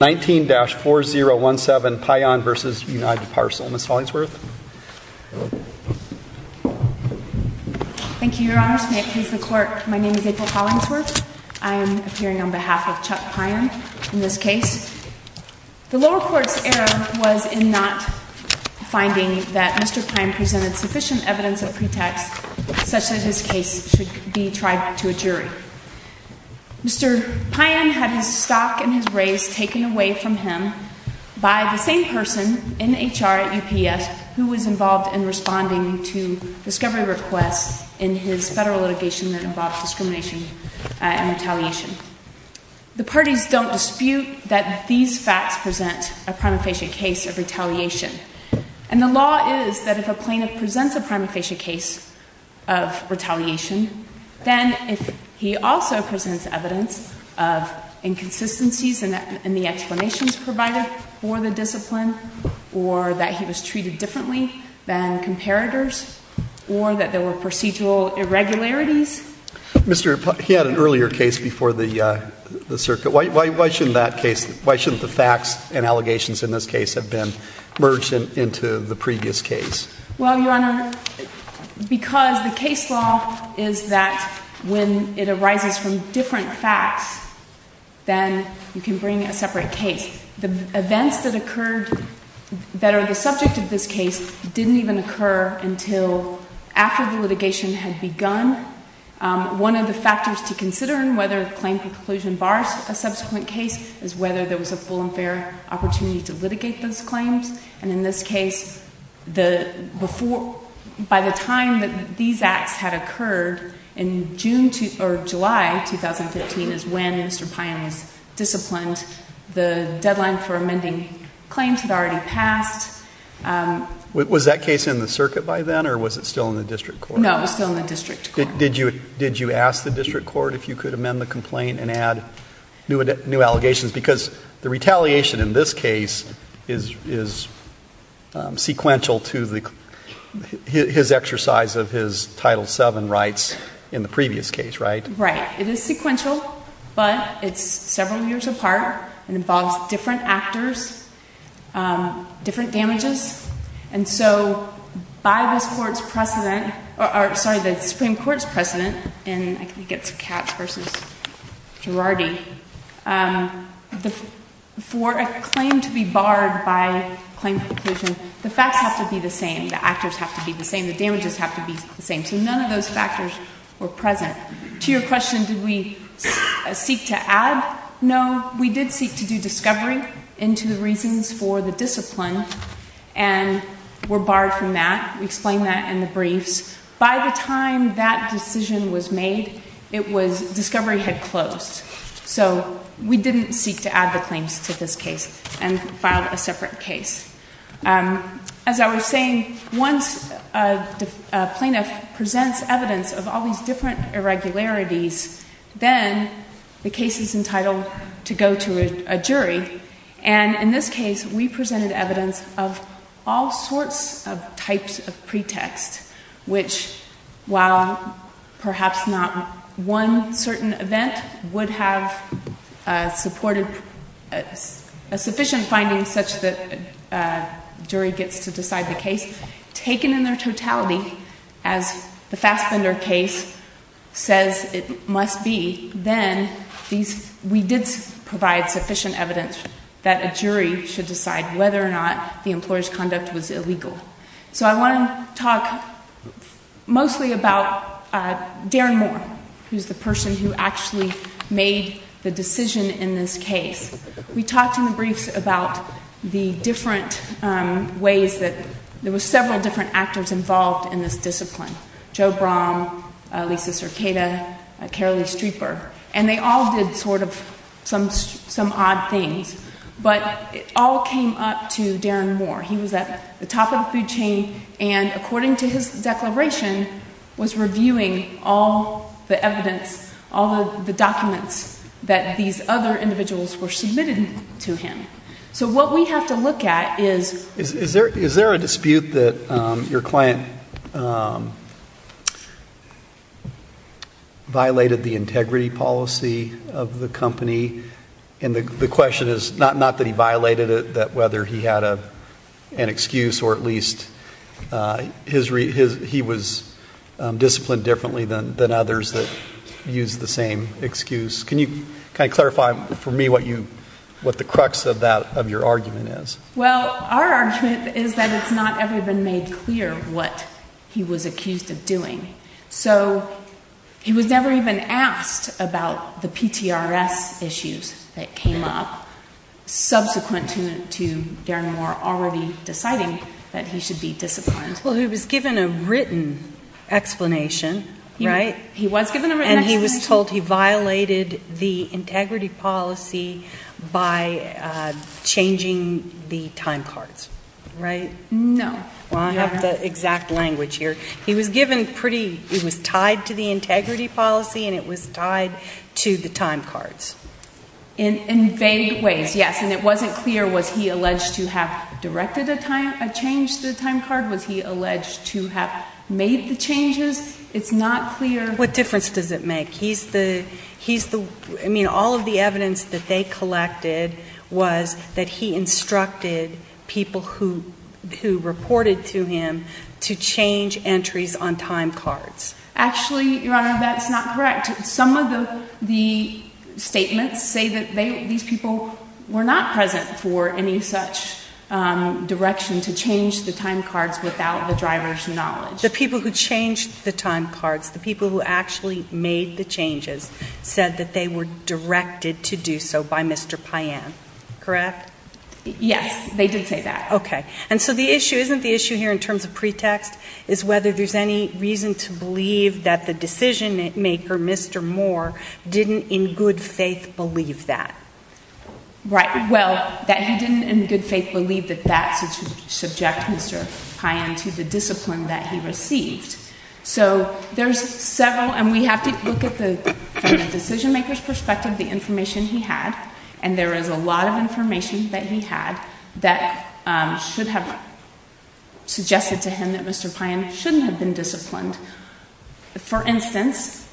19-4017 Payan v. United Parcel Ms. Hollingsworth Thank you, Your Honor. May it please the Court, my name is April Hollingsworth. I am appearing on behalf of Chuck Payan in this case. The lower court's error was in not finding that Mr. Payan presented sufficient evidence Mr. Payan had his stock and his raise taken away from him by the same person in HR at UPS who was involved in responding to discovery requests in his federal litigation that involved discrimination and retaliation. The parties don't dispute that these facts present a prima facie case of retaliation. And the law is that if a plaintiff presents a prima facie case of retaliation, then he also presents evidence of inconsistencies in the explanations provided for the discipline or that he was treated differently than comparators or that there were procedural irregularities. Mr. Payan, he had an earlier case before the circuit, why shouldn't the facts and allegations in this case have been merged into the previous case? Ms. Hollingsworth Well, Your Honor, because the case law is that when it arises from different facts, then you can bring a separate case. The events that occurred that are the subject of this case didn't even occur until after the litigation had begun. One of the factors to consider in whether a claim to conclusion bars a subsequent case is whether there was a full and fair opportunity to litigate those claims. And in this case, by the time that these acts had occurred in July 2015 is when Mr. Payan was disciplined. The deadline for amending claims had already passed. Mr. Phillips Was that case in the circuit by then or was it still in the district court? Ms. Hollingsworth No, it was still in the district court. Mr. Phillips Did you ask the district court if you could amend the complaint and add new allegations? Because the retaliation in this case is sequential to his exercise of his Title VII rights in the previous case, right? Ms. Hollingsworth Right. It is sequential, but it's several years apart and involves different actors, different damages. And so by the Supreme Court's precedent, and I think it's Katz v. Girardi, for a claim to be barred by claim to conclusion, the facts have to be the same, the actors have to be the same, the damages have to be the same, so none of those factors were present. To your question, did we seek to add, no, we did seek to do discovery into the reasons for the discipline and were barred from that. We explained that in the briefs. By the time that decision was made, it was, discovery had closed. So we didn't seek to add the claims to this case and filed a separate case. As I was saying, once a plaintiff presents evidence of all these different irregularities, then the case is entitled to go to a jury. And in this case, we presented evidence of all sorts of types of pretext, which, while perhaps not one certain event would have supported a sufficient finding such that a jury gets to decide the case, taken in their totality, as the Fassbender case says it must be, then we did provide sufficient evidence that a jury should decide whether or not the employer's conduct was illegal. So I want to talk mostly about Darren Moore, who's the person who actually made the decision in this case. We talked in the briefs about the different ways that, there were several different actors involved in this discipline, Joe Brom, Lisa Circada, Carolee Streeper, and they all did sort of some odd things. But it all came up to Darren Moore. He was at the top of the food chain and, according to his declaration, was reviewing all the evidence, all the documents that these other individuals were submitting to him. So what we have to look at is... The client violated the integrity policy of the company, and the question is not that he violated it, that whether he had an excuse or at least he was disciplined differently than others that used the same excuse. Can you kind of clarify for me what the crux of that, of your argument is? Well, our argument is that it's not ever been made clear what he was accused of doing. So he was never even asked about the PTRS issues that came up subsequent to Darren Moore already deciding that he should be disciplined. Well, he was given a written explanation, right? He was given a written explanation. And he was told he violated the integrity policy by changing the time cards, right? No. Well, I have the exact language here. He was given pretty... It was tied to the integrity policy, and it was tied to the time cards. In vague ways, yes. And it wasn't clear, was he alleged to have directed a change to the time card? Was he alleged to have made the changes? It's not clear... What difference does it make? He's the... He's the... I mean, all of the evidence that they collected was that he instructed people who reported to him to change entries on time cards. Actually, Your Honor, that's not correct. Some of the statements say that these people were not present for any such direction to change the time cards without the driver's knowledge. The people who changed the time cards, the people who actually made the changes, said that they were directed to do so by Mr. Payan, correct? Yes. They did say that. Okay. And so the issue... Isn't the issue here, in terms of pretext, is whether there's any reason to believe that the decision-maker, Mr. Moore, didn't in good faith believe that? Right. Well, that he didn't in good faith believe that that subject Mr. Payan to the discipline that he received. So there's several... And we have to look at the, from the decision-maker's perspective, the information he had. And there is a lot of information that he had that should have suggested to him that Mr. Payan shouldn't have been disciplined. For instance,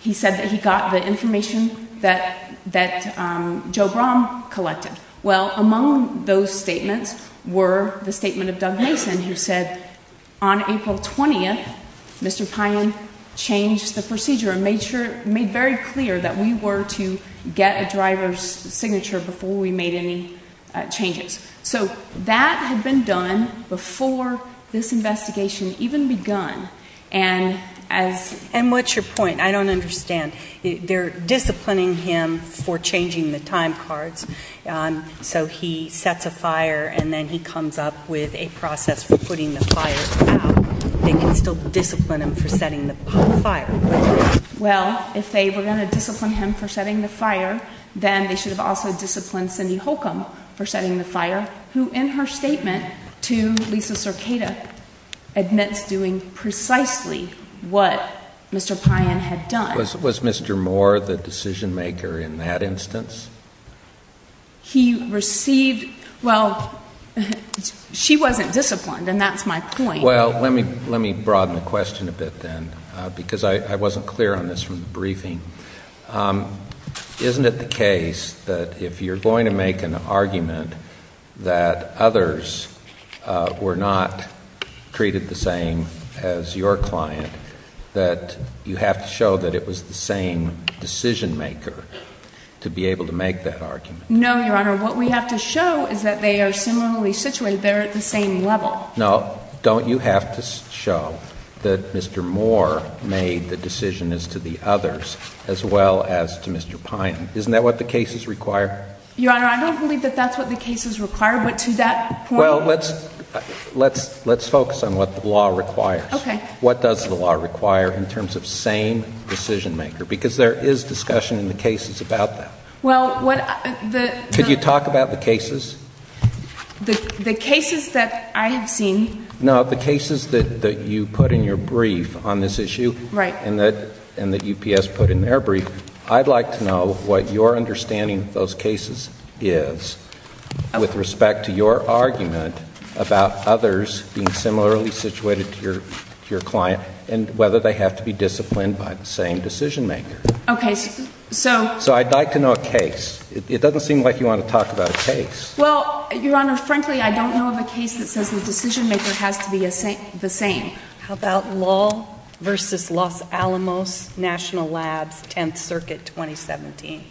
he said that he got the information that Joe Brahm collected. Well, among those statements were the statement of Doug Mason, who said, on April 20th, Mr. Payan changed the procedure and made sure, made very clear that we were to get a driver's signature before we made any changes. So that had been done before this investigation even begun, and as... And what's your point? I don't understand. And they're disciplining him for changing the time cards, so he sets a fire and then he comes up with a process for putting the fire out. They can still discipline him for setting the fire, but... Well, if they were going to discipline him for setting the fire, then they should have also disciplined Cindy Holcomb for setting the fire, who in her statement to Lisa Cercada admits doing precisely what Mr. Payan had done. Was Mr. Moore the decision-maker in that instance? He received, well, she wasn't disciplined, and that's my point. Well, let me broaden the question a bit then, because I wasn't clear on this from the briefing. Isn't it the case that if you're going to make an argument that others were not treated the same as your client, that you have to show that it was the same decision-maker to be able to make that argument? No, Your Honor. What we have to show is that they are similarly situated, they're at the same level. No. Don't you have to show that Mr. Moore made the decision as to the others as well as to Mr. Payan? Isn't that what the cases require? Your Honor, I don't believe that that's what the cases require, but to that point... Well, let's focus on what the law requires. What does the law require in terms of same decision-maker? Because there is discussion in the cases about that. Well, what... Could you talk about the cases? The cases that I have seen... No, the cases that you put in your brief on this issue and that UPS put in their brief, I'd like to know what your understanding of those cases is with respect to your argument about others being similarly situated to your client and whether they have to be disciplined by the same decision-maker. Okay. So... So, I'd like to know a case. It doesn't seem like you want to talk about a case. Well, Your Honor, frankly, I don't know of a case that says the decision-maker has to be the same. How about Lowell v. Los Alamos National Labs, 10th Circuit, 2017?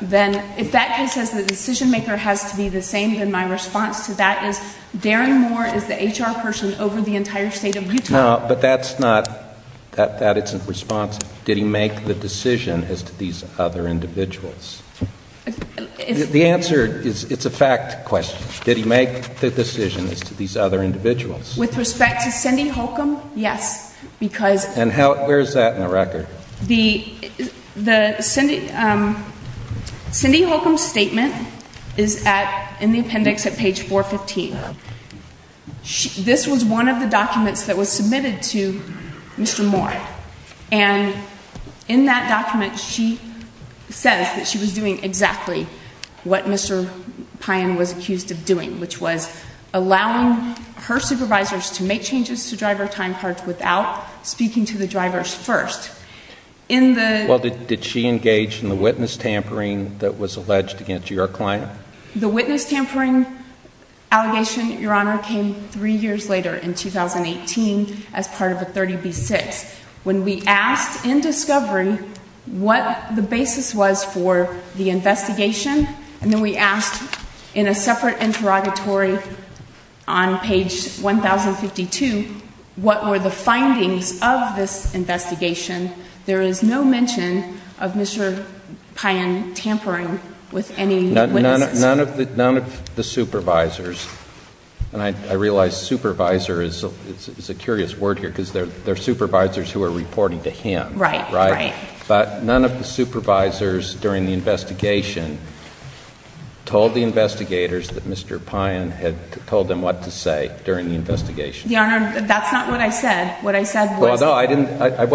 Then if that case says the decision-maker has to be the same, then my response to that is, Darren Moore is the HR person over the entire state of Utah. No, but that's not... That isn't the response. Did he make the decision as to these other individuals? The answer is... It's a fact question. Did he make the decision as to these other individuals? With respect to Cindy Holcomb, yes, because... And how... Where is that in the record? The... The... Cindy... Cindy Holcomb's statement is at... In the appendix at page 415. This was one of the documents that was submitted to Mr. Moore, and in that document, she says that she was doing exactly what Mr. Payan was accused of doing, which was allowing her supervisors to make changes to driver time cards without speaking to the drivers first. In the... Well, did she engage in the witness tampering that was alleged against your client? The witness tampering allegation, Your Honor, came three years later, in 2018, as part of the 30B-6. When we asked in discovery what the basis was for the investigation, and then we asked in a separate interrogatory on page 1052, what were the findings of this investigation, there is no mention of Mr. Payan tampering with any witnesses. None of the... None of the supervisors, and I realize supervisor is a curious word here, because their supervisor is the one who is reporting to him, but none of the supervisors during the investigation told the investigators that Mr. Payan had told them what to say during the investigation. Your Honor, that's not what I said. What I said was... Well, no, I didn't... I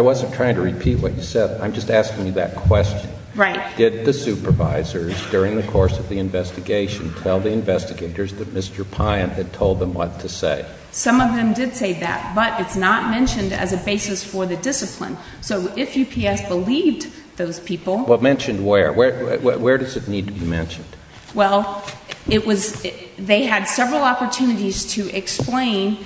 wasn't trying to repeat what you said. I'm just asking you that question. Right. Did the supervisors, during the course of the investigation, tell the investigators that Mr. Payan had told them what to say? Some of them did say that, but it's not mentioned as a basis for the discipline. So if UPS believed those people... Well, mentioned where? Where does it need to be mentioned? Well, it was... They had several opportunities to explain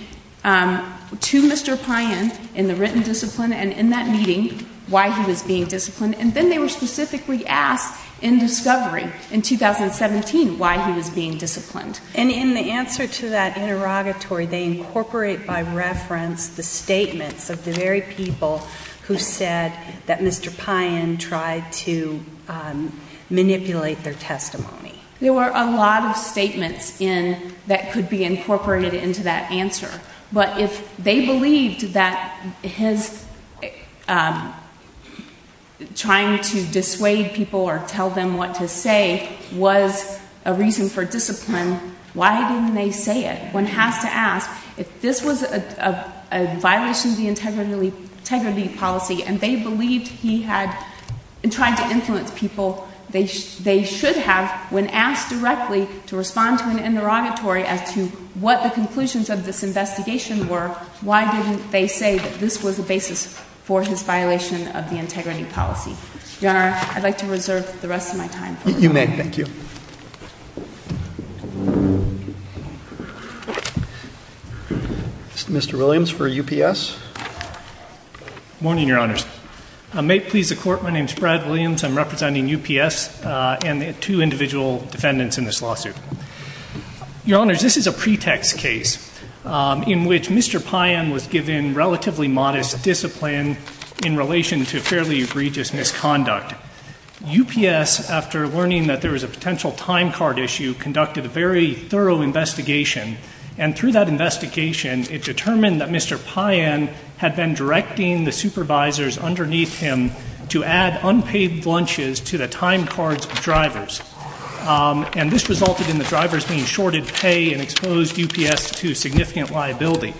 to Mr. Payan in the written discipline and in that meeting why he was being disciplined, and then they were specifically asked in discovery in 2017 why he was being disciplined. And in the answer to that interrogatory, they incorporate by reference the statements of the very people who said that Mr. Payan tried to manipulate their testimony. There were a lot of statements in... that could be incorporated into that answer. But if they believed that his trying to dissuade people or tell them what to say was a reason for discipline, why didn't they say it? One has to ask, if this was a violation of the integrity policy, and they believed he had tried to influence people, they should have, when asked directly to respond to an interrogatory as to what the conclusions of this investigation were, why didn't they say that this was a basis for his violation of the integrity policy? Your Honor, I'd like to reserve the rest of my time. You may. Thank you. Mr. Williams for UPS. Morning, Your Honors. May it please the Court, my name is Brad Williams, I'm representing UPS and two individual defendants in this lawsuit. Your Honors, this is a pretext case in which Mr. Payan was given relatively modest discipline in relation to fairly egregious misconduct. UPS, after learning that there was a potential time card issue, conducted a very thorough investigation and through that investigation, it determined that Mr. Payan had been directing the supervisors underneath him to add unpaid lunches to the time cards of drivers. And this resulted in the drivers being shorted pay and exposed UPS to significant liability.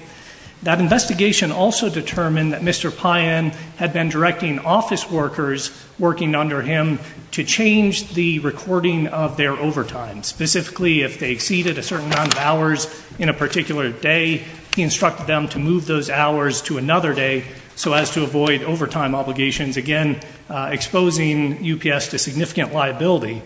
That investigation also determined that Mr. Payan had been directing office workers working under him to change the recording of their overtime, specifically if they exceeded a certain amount of hours in a particular day, he instructed them to move those hours to another day so as to avoid overtime obligations, again, exposing UPS to significant liability.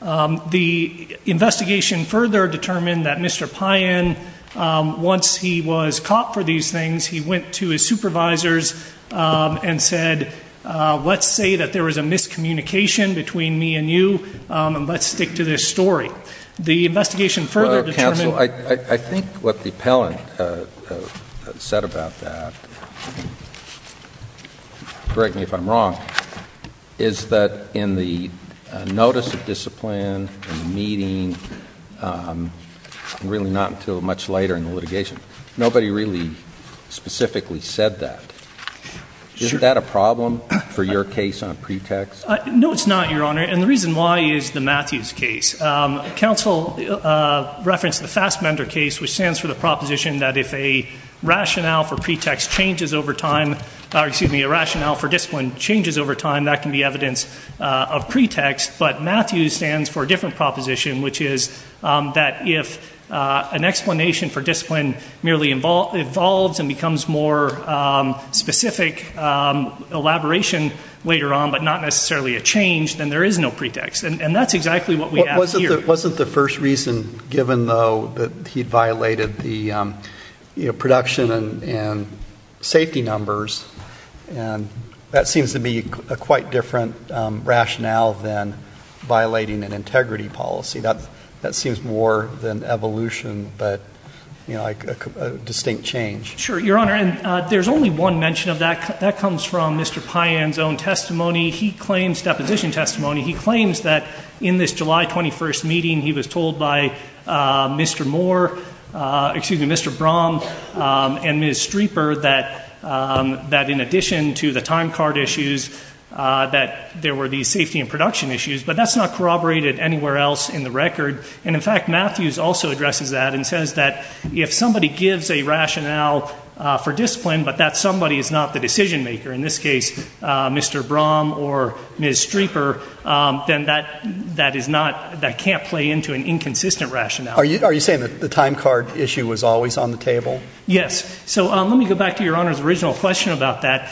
The investigation further determined that Mr. Payan, once he was caught for these things, he went to his supervisors and said, let's say that there was a miscommunication between me and you, and let's stick to this story. The investigation further determined- Counsel, I think what the appellant said about that, correct me if I'm wrong, is that in the notice of discipline in the meeting, really not until much later in the litigation, nobody really specifically said that. Sure. Isn't that a problem for your case on pretext? No, it's not, Your Honor, and the reason why is the Matthews case. Counsel referenced the Fassbender case, which stands for the proposition that if a rationale for pretext changes over time, or excuse me, a rationale for discipline changes over time, that can be evidence of pretext, but Matthews stands for a different proposition, which is that if an explanation for discipline merely evolves and becomes more specific elaboration later on, but not necessarily a change, then there is no pretext, and that's exactly what we have here. Wasn't the first reason given, though, that he violated the production and safety numbers, and that seems to be a quite different rationale than violating an integrity policy. That seems more than evolution, but, you know, a distinct change. Sure, Your Honor, and there's only one mention of that. That comes from Mr. Payan's own testimony. He claims, deposition testimony, he claims that in this July 21st meeting, he was told by Mr. Moore, excuse me, Mr. Brom and Ms. Streeper that in addition to the time card issues that there were these safety and production issues, but that's not corroborated anywhere else in the record, and in fact, Matthews also addresses that and says that if somebody gives a rationale for discipline, but that somebody is not the decision maker, in this case, Mr. Brom or Ms. Streeper, then that is not, that can't play into an inconsistent rationale. Are you saying that the time card issue was always on the table? Yes. So let me go back to Your Honor's original question about that.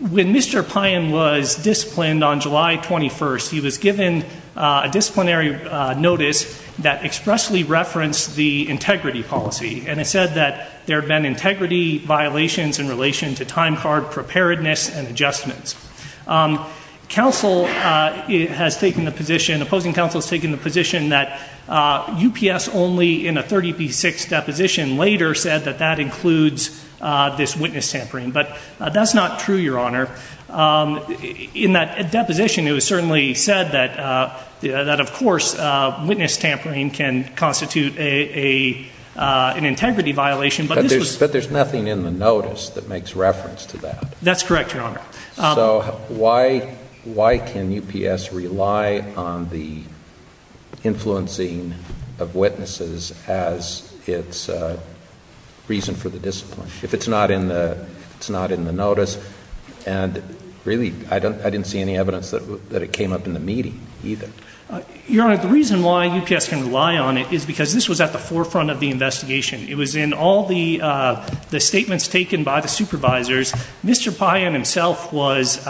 When Mr. Payan was disciplined on July 21st, he was given a disciplinary notice that expressly referenced the integrity policy, and it said that there had been integrity violations in relation to time card preparedness and adjustments. Counsel has taken the position, the opposing counsel has taken the position that UPS only in a 30p6 deposition later said that that includes this witness tampering, but that's not true, Your Honor. In that deposition, it was certainly said that of course witness tampering can constitute an integrity violation, but this was But there's nothing in the notice that makes reference to that. That's correct, Your Honor. So why can UPS rely on the influencing of witnesses as its reason for the discipline? If it's not in the notice, and really, I didn't see any evidence that it came up in the meeting either. Your Honor, the reason why UPS can rely on it is because this was at the forefront of the investigation. It was in all the statements taken by the supervisors. Mr. Payan himself was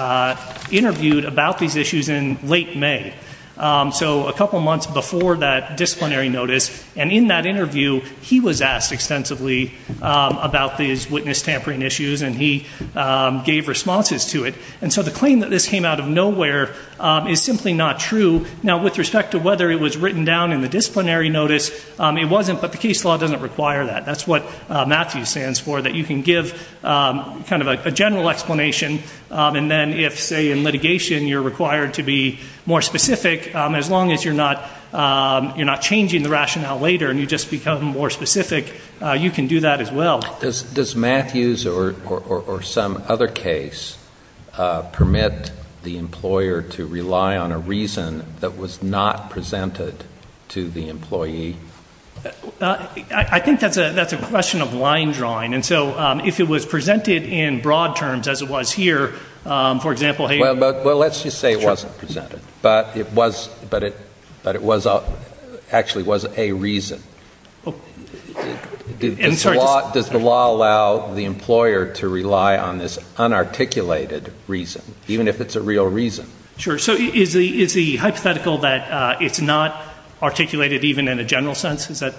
interviewed about these issues in late May, so a couple months before that disciplinary notice, and in that interview, he was asked extensively about these witness tampering issues, and he gave responses to it. And so the claim that this came out of nowhere is simply not true. Now with respect to whether it was written down in the disciplinary notice, it wasn't, but the case law doesn't require that. That's what MATHEWS stands for, that you can give kind of a general explanation, and then if, say, in litigation, you're required to be more specific, as long as you're not changing the rationale later and you just become more specific, you can do that as well. Does MATHEWS or some other case permit the employer to rely on a reason that was not presented to the employee? I think that's a question of line drawing, and so if it was presented in broad terms as it was here, for example, hey— Well, let's just say it wasn't presented, but it was actually a reason. Does the law allow the employer to rely on this unarticulated reason, even if it's a real reason? Sure. So is the hypothetical that it's not articulated even in a general sense, is that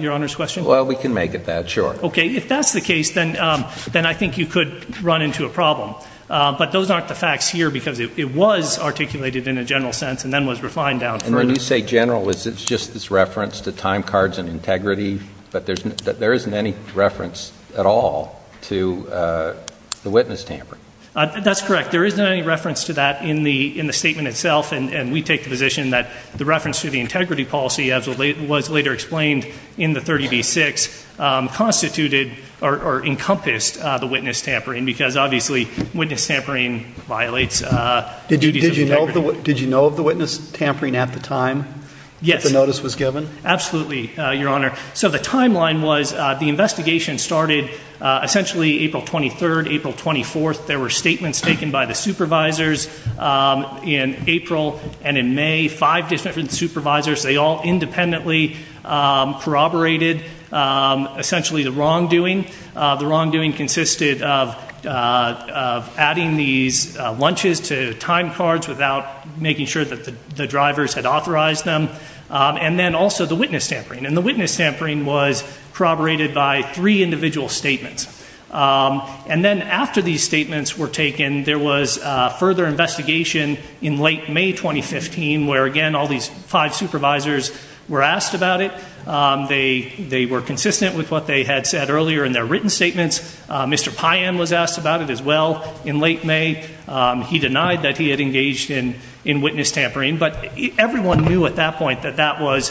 Your Honor's question? Well, we can make it that. Sure. Okay. If that's the case, then I think you could run into a problem. But those aren't the facts here, because it was articulated in a general sense and then was refined down further. And when you say general, is it just this reference to time cards and integrity? But there isn't any reference at all to the witness tampering. That's correct. There isn't any reference to that in the statement itself, and we take the position that the reference to the integrity policy, as was later explained in the 30b-6, constituted or encompassed the witness tampering, because obviously witness tampering violates duties of integrity. Did you know of the witness tampering at the time that the notice was given? Yes. Absolutely, Your Honor. So the timeline was the investigation started essentially April 23rd, April 24th. There were statements taken by the supervisors in April and in May. Five different supervisors, they all independently corroborated essentially the wrongdoing. The wrongdoing consisted of adding these lunches to time cards without making sure that the drivers had authorized them, and then also the witness tampering. And the witness tampering was corroborated by three individual statements. And then after these statements were taken, there was further investigation in late May 2015, where again all these five supervisors were asked about it. They were consistent with what they had said earlier in their written statements. Mr. Payan was asked about it as well in late May. He denied that he had engaged in witness tampering. But everyone knew at that point that that was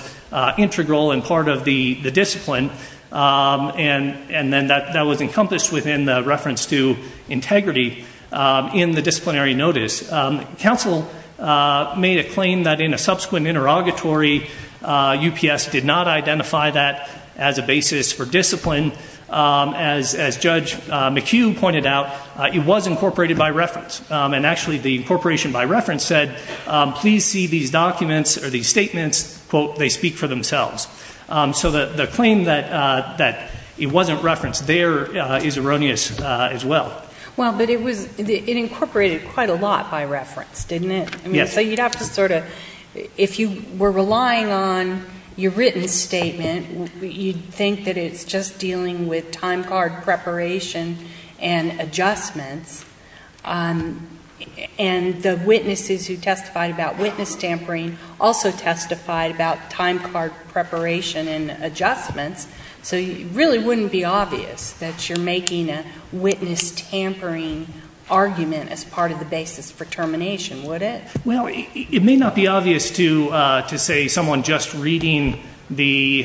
integral and part of the discipline, and then that was encompassed within the reference to integrity in the disciplinary notice. Counsel made a claim that in a subsequent interrogatory, UPS did not identify that as a basis for discipline. As Judge McHugh pointed out, it was incorporated by reference, and actually the incorporation by reference said, please see these documents or these statements, quote, they speak for themselves. So the claim that it wasn't referenced there is erroneous as well. Well, but it was, it incorporated quite a lot by reference, didn't it? Yes. So you'd have to sort of, if you were relying on your written statement, you'd think that it's just dealing with time card preparation and adjustments, and the witnesses who testified about witness tampering also testified about time card preparation and adjustments. So it really wouldn't be obvious that you're making a witness tampering argument as part of the basis for termination, would it? Well, it may not be obvious to say someone just reading the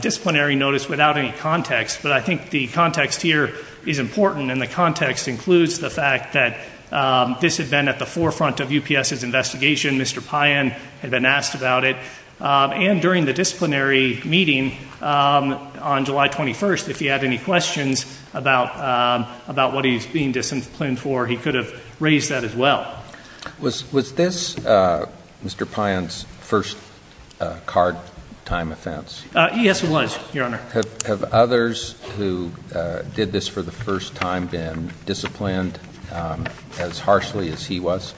disciplinary notice without any context, but I think the context here is important, and the context includes the Mr. Payan had been asked about it, and during the disciplinary meeting on July 21st, if he had any questions about what he's being disciplined for, he could have raised that as well. Was this Mr. Payan's first card time offense? Yes, it was, Your Honor. Have others who did this for the first time been disciplined as harshly as he was?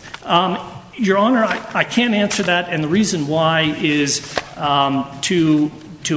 Your Honor, I can't answer that, and the reason why is to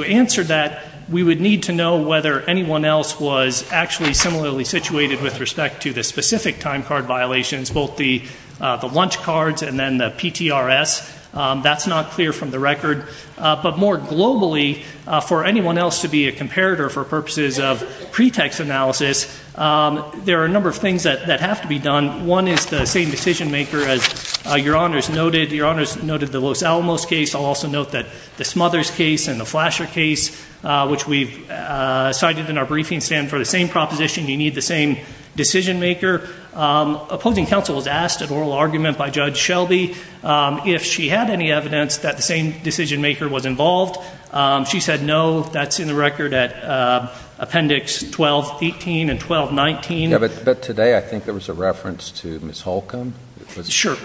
answer that, we would need to know whether anyone else was actually similarly situated with respect to the specific time card violations, both the lunch cards and then the PTRS. That's not clear from the record, but more globally, for anyone else to be a comparator for purposes of pretext analysis, there are a number of things that have to be done. One is the same decision maker as Your Honor has noted, Your Honor has noted the Los Alamos case. I'll also note that the Smothers case and the Flasher case, which we've cited in our briefing stand for the same proposition, you need the same decision maker. Opposing counsel was asked at oral argument by Judge Shelby if she had any evidence that the same decision maker was involved. She said no. That's in the record at appendix 1218 and 1219. But today, I think there was a reference to Ms. Holcomb. Sure.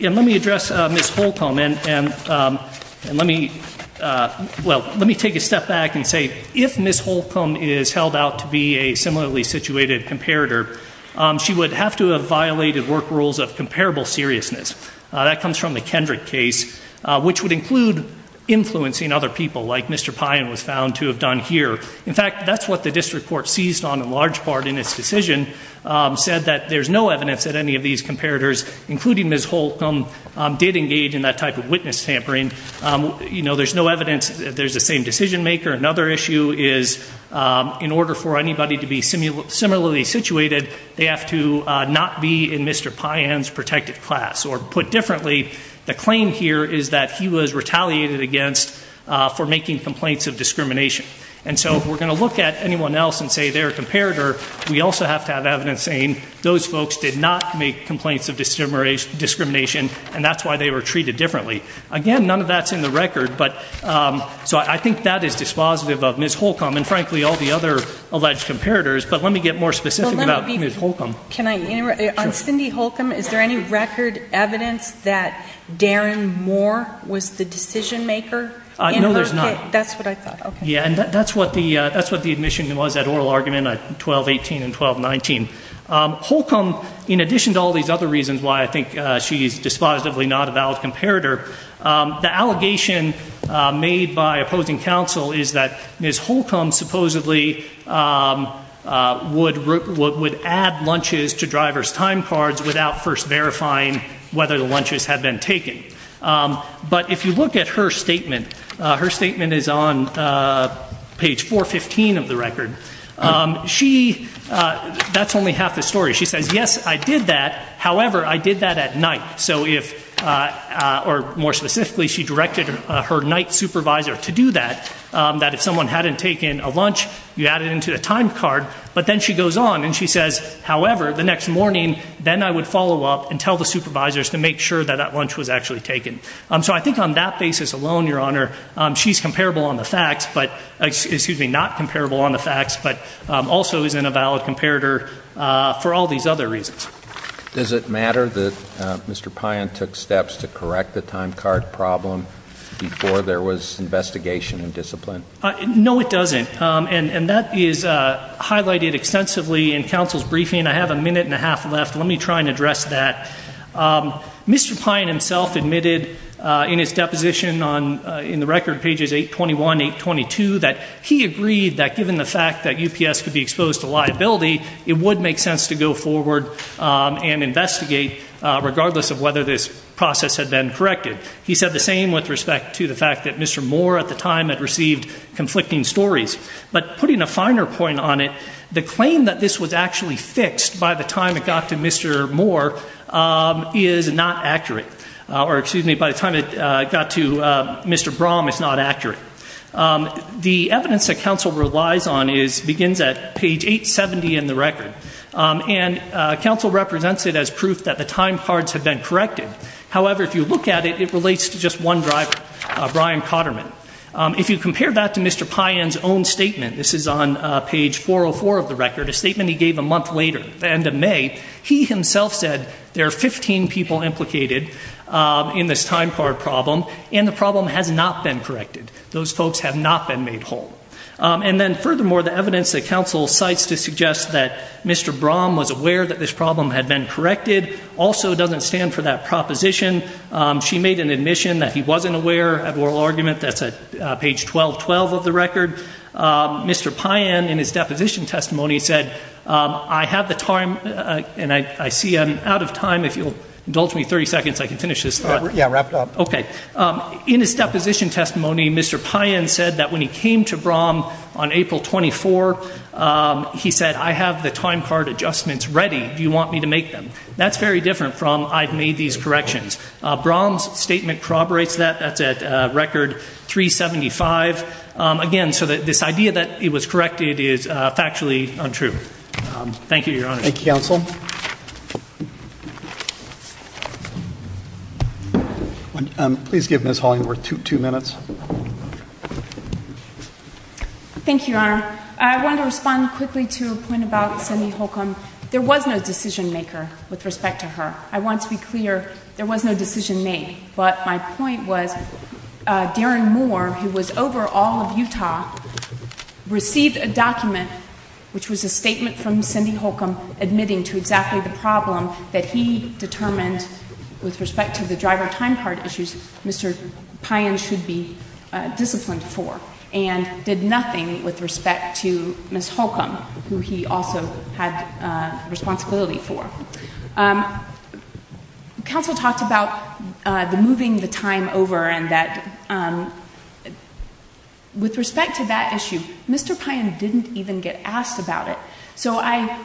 And let me address Ms. Holcomb, and let me, well, let me take a step back and say if Ms. Holcomb is held out to be a similarly situated comparator, she would have to have violated work rules of comparable seriousness. That comes from the Kendrick case, which would include influencing other people, like Mr. Pyon was found to have done here. In fact, that's what the district court seized on in large part in its decision, said that there's no evidence that any of these comparators, including Ms. Holcomb, did engage in that type of witness tampering. You know, there's no evidence that there's the same decision maker. Another issue is in order for anybody to be similarly situated, they have to not be in Mr. Pyon's protective class. Or put differently, the claim here is that he was retaliated against for making complaints of discrimination. And so if we're going to look at anyone else and say they're a comparator, we also have to have evidence saying those folks did not make complaints of discrimination, and that's why they were treated differently. Again, none of that's in the record, but so I think that is dispositive of Ms. Holcomb and frankly all the other alleged comparators. But let me get more specific about Ms. Holcomb. Can I interrupt? Sure. On Cindy Holcomb, is there any record evidence that Darren Moore was the decision maker in her case? No, there's not. That's what I thought. Okay. Yeah, and that's what the admission was, that oral argument at 12-18 and 12-19. Holcomb, in addition to all these other reasons why I think she's dispositively not a valid comparator, the allegation made by opposing counsel is that Ms. Holcomb supposedly would add lunches to driver's time cards without first verifying whether the lunches had been taken. But if you look at her statement, her statement is on page 415 of the record, that's only half the story. She says, yes, I did that, however, I did that at night. So if, or more specifically, she directed her night supervisor to do that, that if someone hadn't taken a lunch, you add it into the time card. But then she goes on and she says, however, the next morning, then I would follow up and make sure that that lunch was actually taken. So I think on that basis alone, Your Honor, she's comparable on the facts, excuse me, not comparable on the facts, but also isn't a valid comparator for all these other reasons. Does it matter that Mr. Payan took steps to correct the time card problem before there was investigation and discipline? No, it doesn't. And that is highlighted extensively in counsel's briefing. I have a minute and a half left. Let me try and address that. Mr. Payan himself admitted in his deposition on, in the record, pages 821, 822, that he agreed that given the fact that UPS could be exposed to liability, it would make sense to go forward and investigate regardless of whether this process had been corrected. He said the same with respect to the fact that Mr. Moore at the time had received conflicting stories. But putting a finer point on it, the claim that this was actually fixed by the time it got to Mr. Moore is not accurate, or excuse me, by the time it got to Mr. Brom is not accurate. The evidence that counsel relies on begins at page 870 in the record. And counsel represents it as proof that the time cards had been corrected. However, if you look at it, it relates to just one driver, Brian Cotterman. If you compare that to Mr. Payan's own statement, this is on page 404 of the record, a statement he gave a month later at the end of May, he himself said there are 15 people implicated in this time card problem, and the problem has not been corrected. Those folks have not been made whole. And then furthermore, the evidence that counsel cites to suggest that Mr. Brom was aware that this problem had been corrected also doesn't stand for that proposition. She made an admission that he wasn't aware of oral argument. That's at page 1212 of the record. Mr. Payan, in his deposition testimony, said, I have the time, and I see I'm out of time. If you'll indulge me 30 seconds, I can finish this. Yeah, wrap it up. OK. In his deposition testimony, Mr. Payan said that when he came to Brom on April 24, he said, I have the time card adjustments ready. Do you want me to make them? That's very different from I've made these corrections. Brom's statement corroborates that. That's at record 375. Again, so that this idea that it was corrected is factually untrue. Thank you, Your Honor. Thank you, counsel. Please give Ms. Hollingworth two minutes. Thank you, Your Honor. I want to respond quickly to a point about Semihokum. There was no decision maker with respect to her. I want to be clear, there was no decision made. But my point was, Darren Moore, who was over all of Utah, received a document, which was a statement from Semihokum, admitting to exactly the problem that he determined with respect to the driver time card issues Mr. Payan should be disciplined for, and did nothing with respect to Ms. Hokum, who he also had responsibility for. Counsel talked about the moving the time over, and that with respect to that issue, Mr. Payan didn't even get asked about it. So I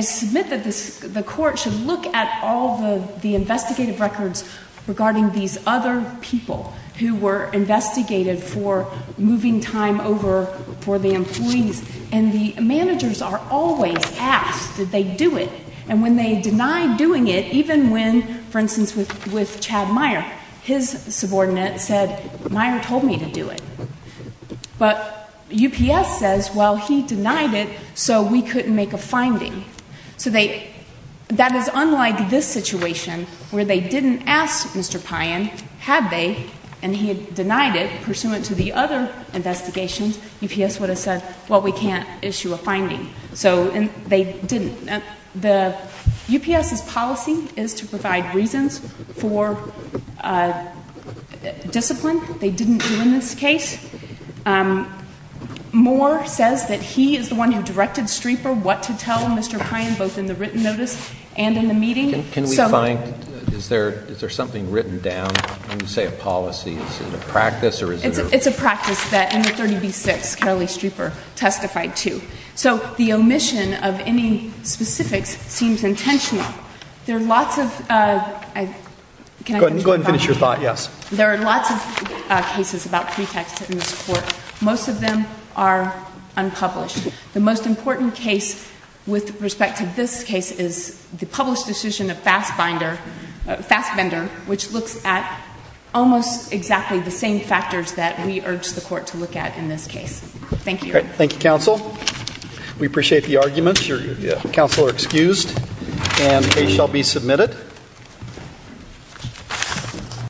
submit that the court should look at all the investigative records regarding these other people who were investigated for moving time over for the employees, and the managers are always asked, did they do it? And when they deny doing it, even when, for instance, with Chad Meyer, his subordinate said, Meyer told me to do it. But UPS says, well, he denied it, so we couldn't make a finding. So that is unlike this situation, where they didn't ask Mr. Payan, had they, and he had denied it pursuant to the other investigations, UPS would have said, well, we can't issue a finding. So they didn't. The UPS's policy is to provide reasons for discipline. They didn't do in this case. Moore says that he is the one who directed Streeper what to tell Mr. Payan, both in the written notice and in the meeting. Can we find, is there something written down, when you say a policy, is it a practice or is it a- It's a practice that in the 30B-6, Carolee Streeper testified to. So the omission of any specifics seems intentional. There are lots of, can I finish my thought? Go ahead and finish your thought, yes. There are lots of cases about pretexts in this court. Most of them are unpublished. The most important case with respect to this case is the published decision of Fassbender, which looks at almost exactly the same factors that we urge the court to look at in this case. Thank you. Thank you, counsel. We appreciate the arguments. Your counsel are excused and a shall be submitted.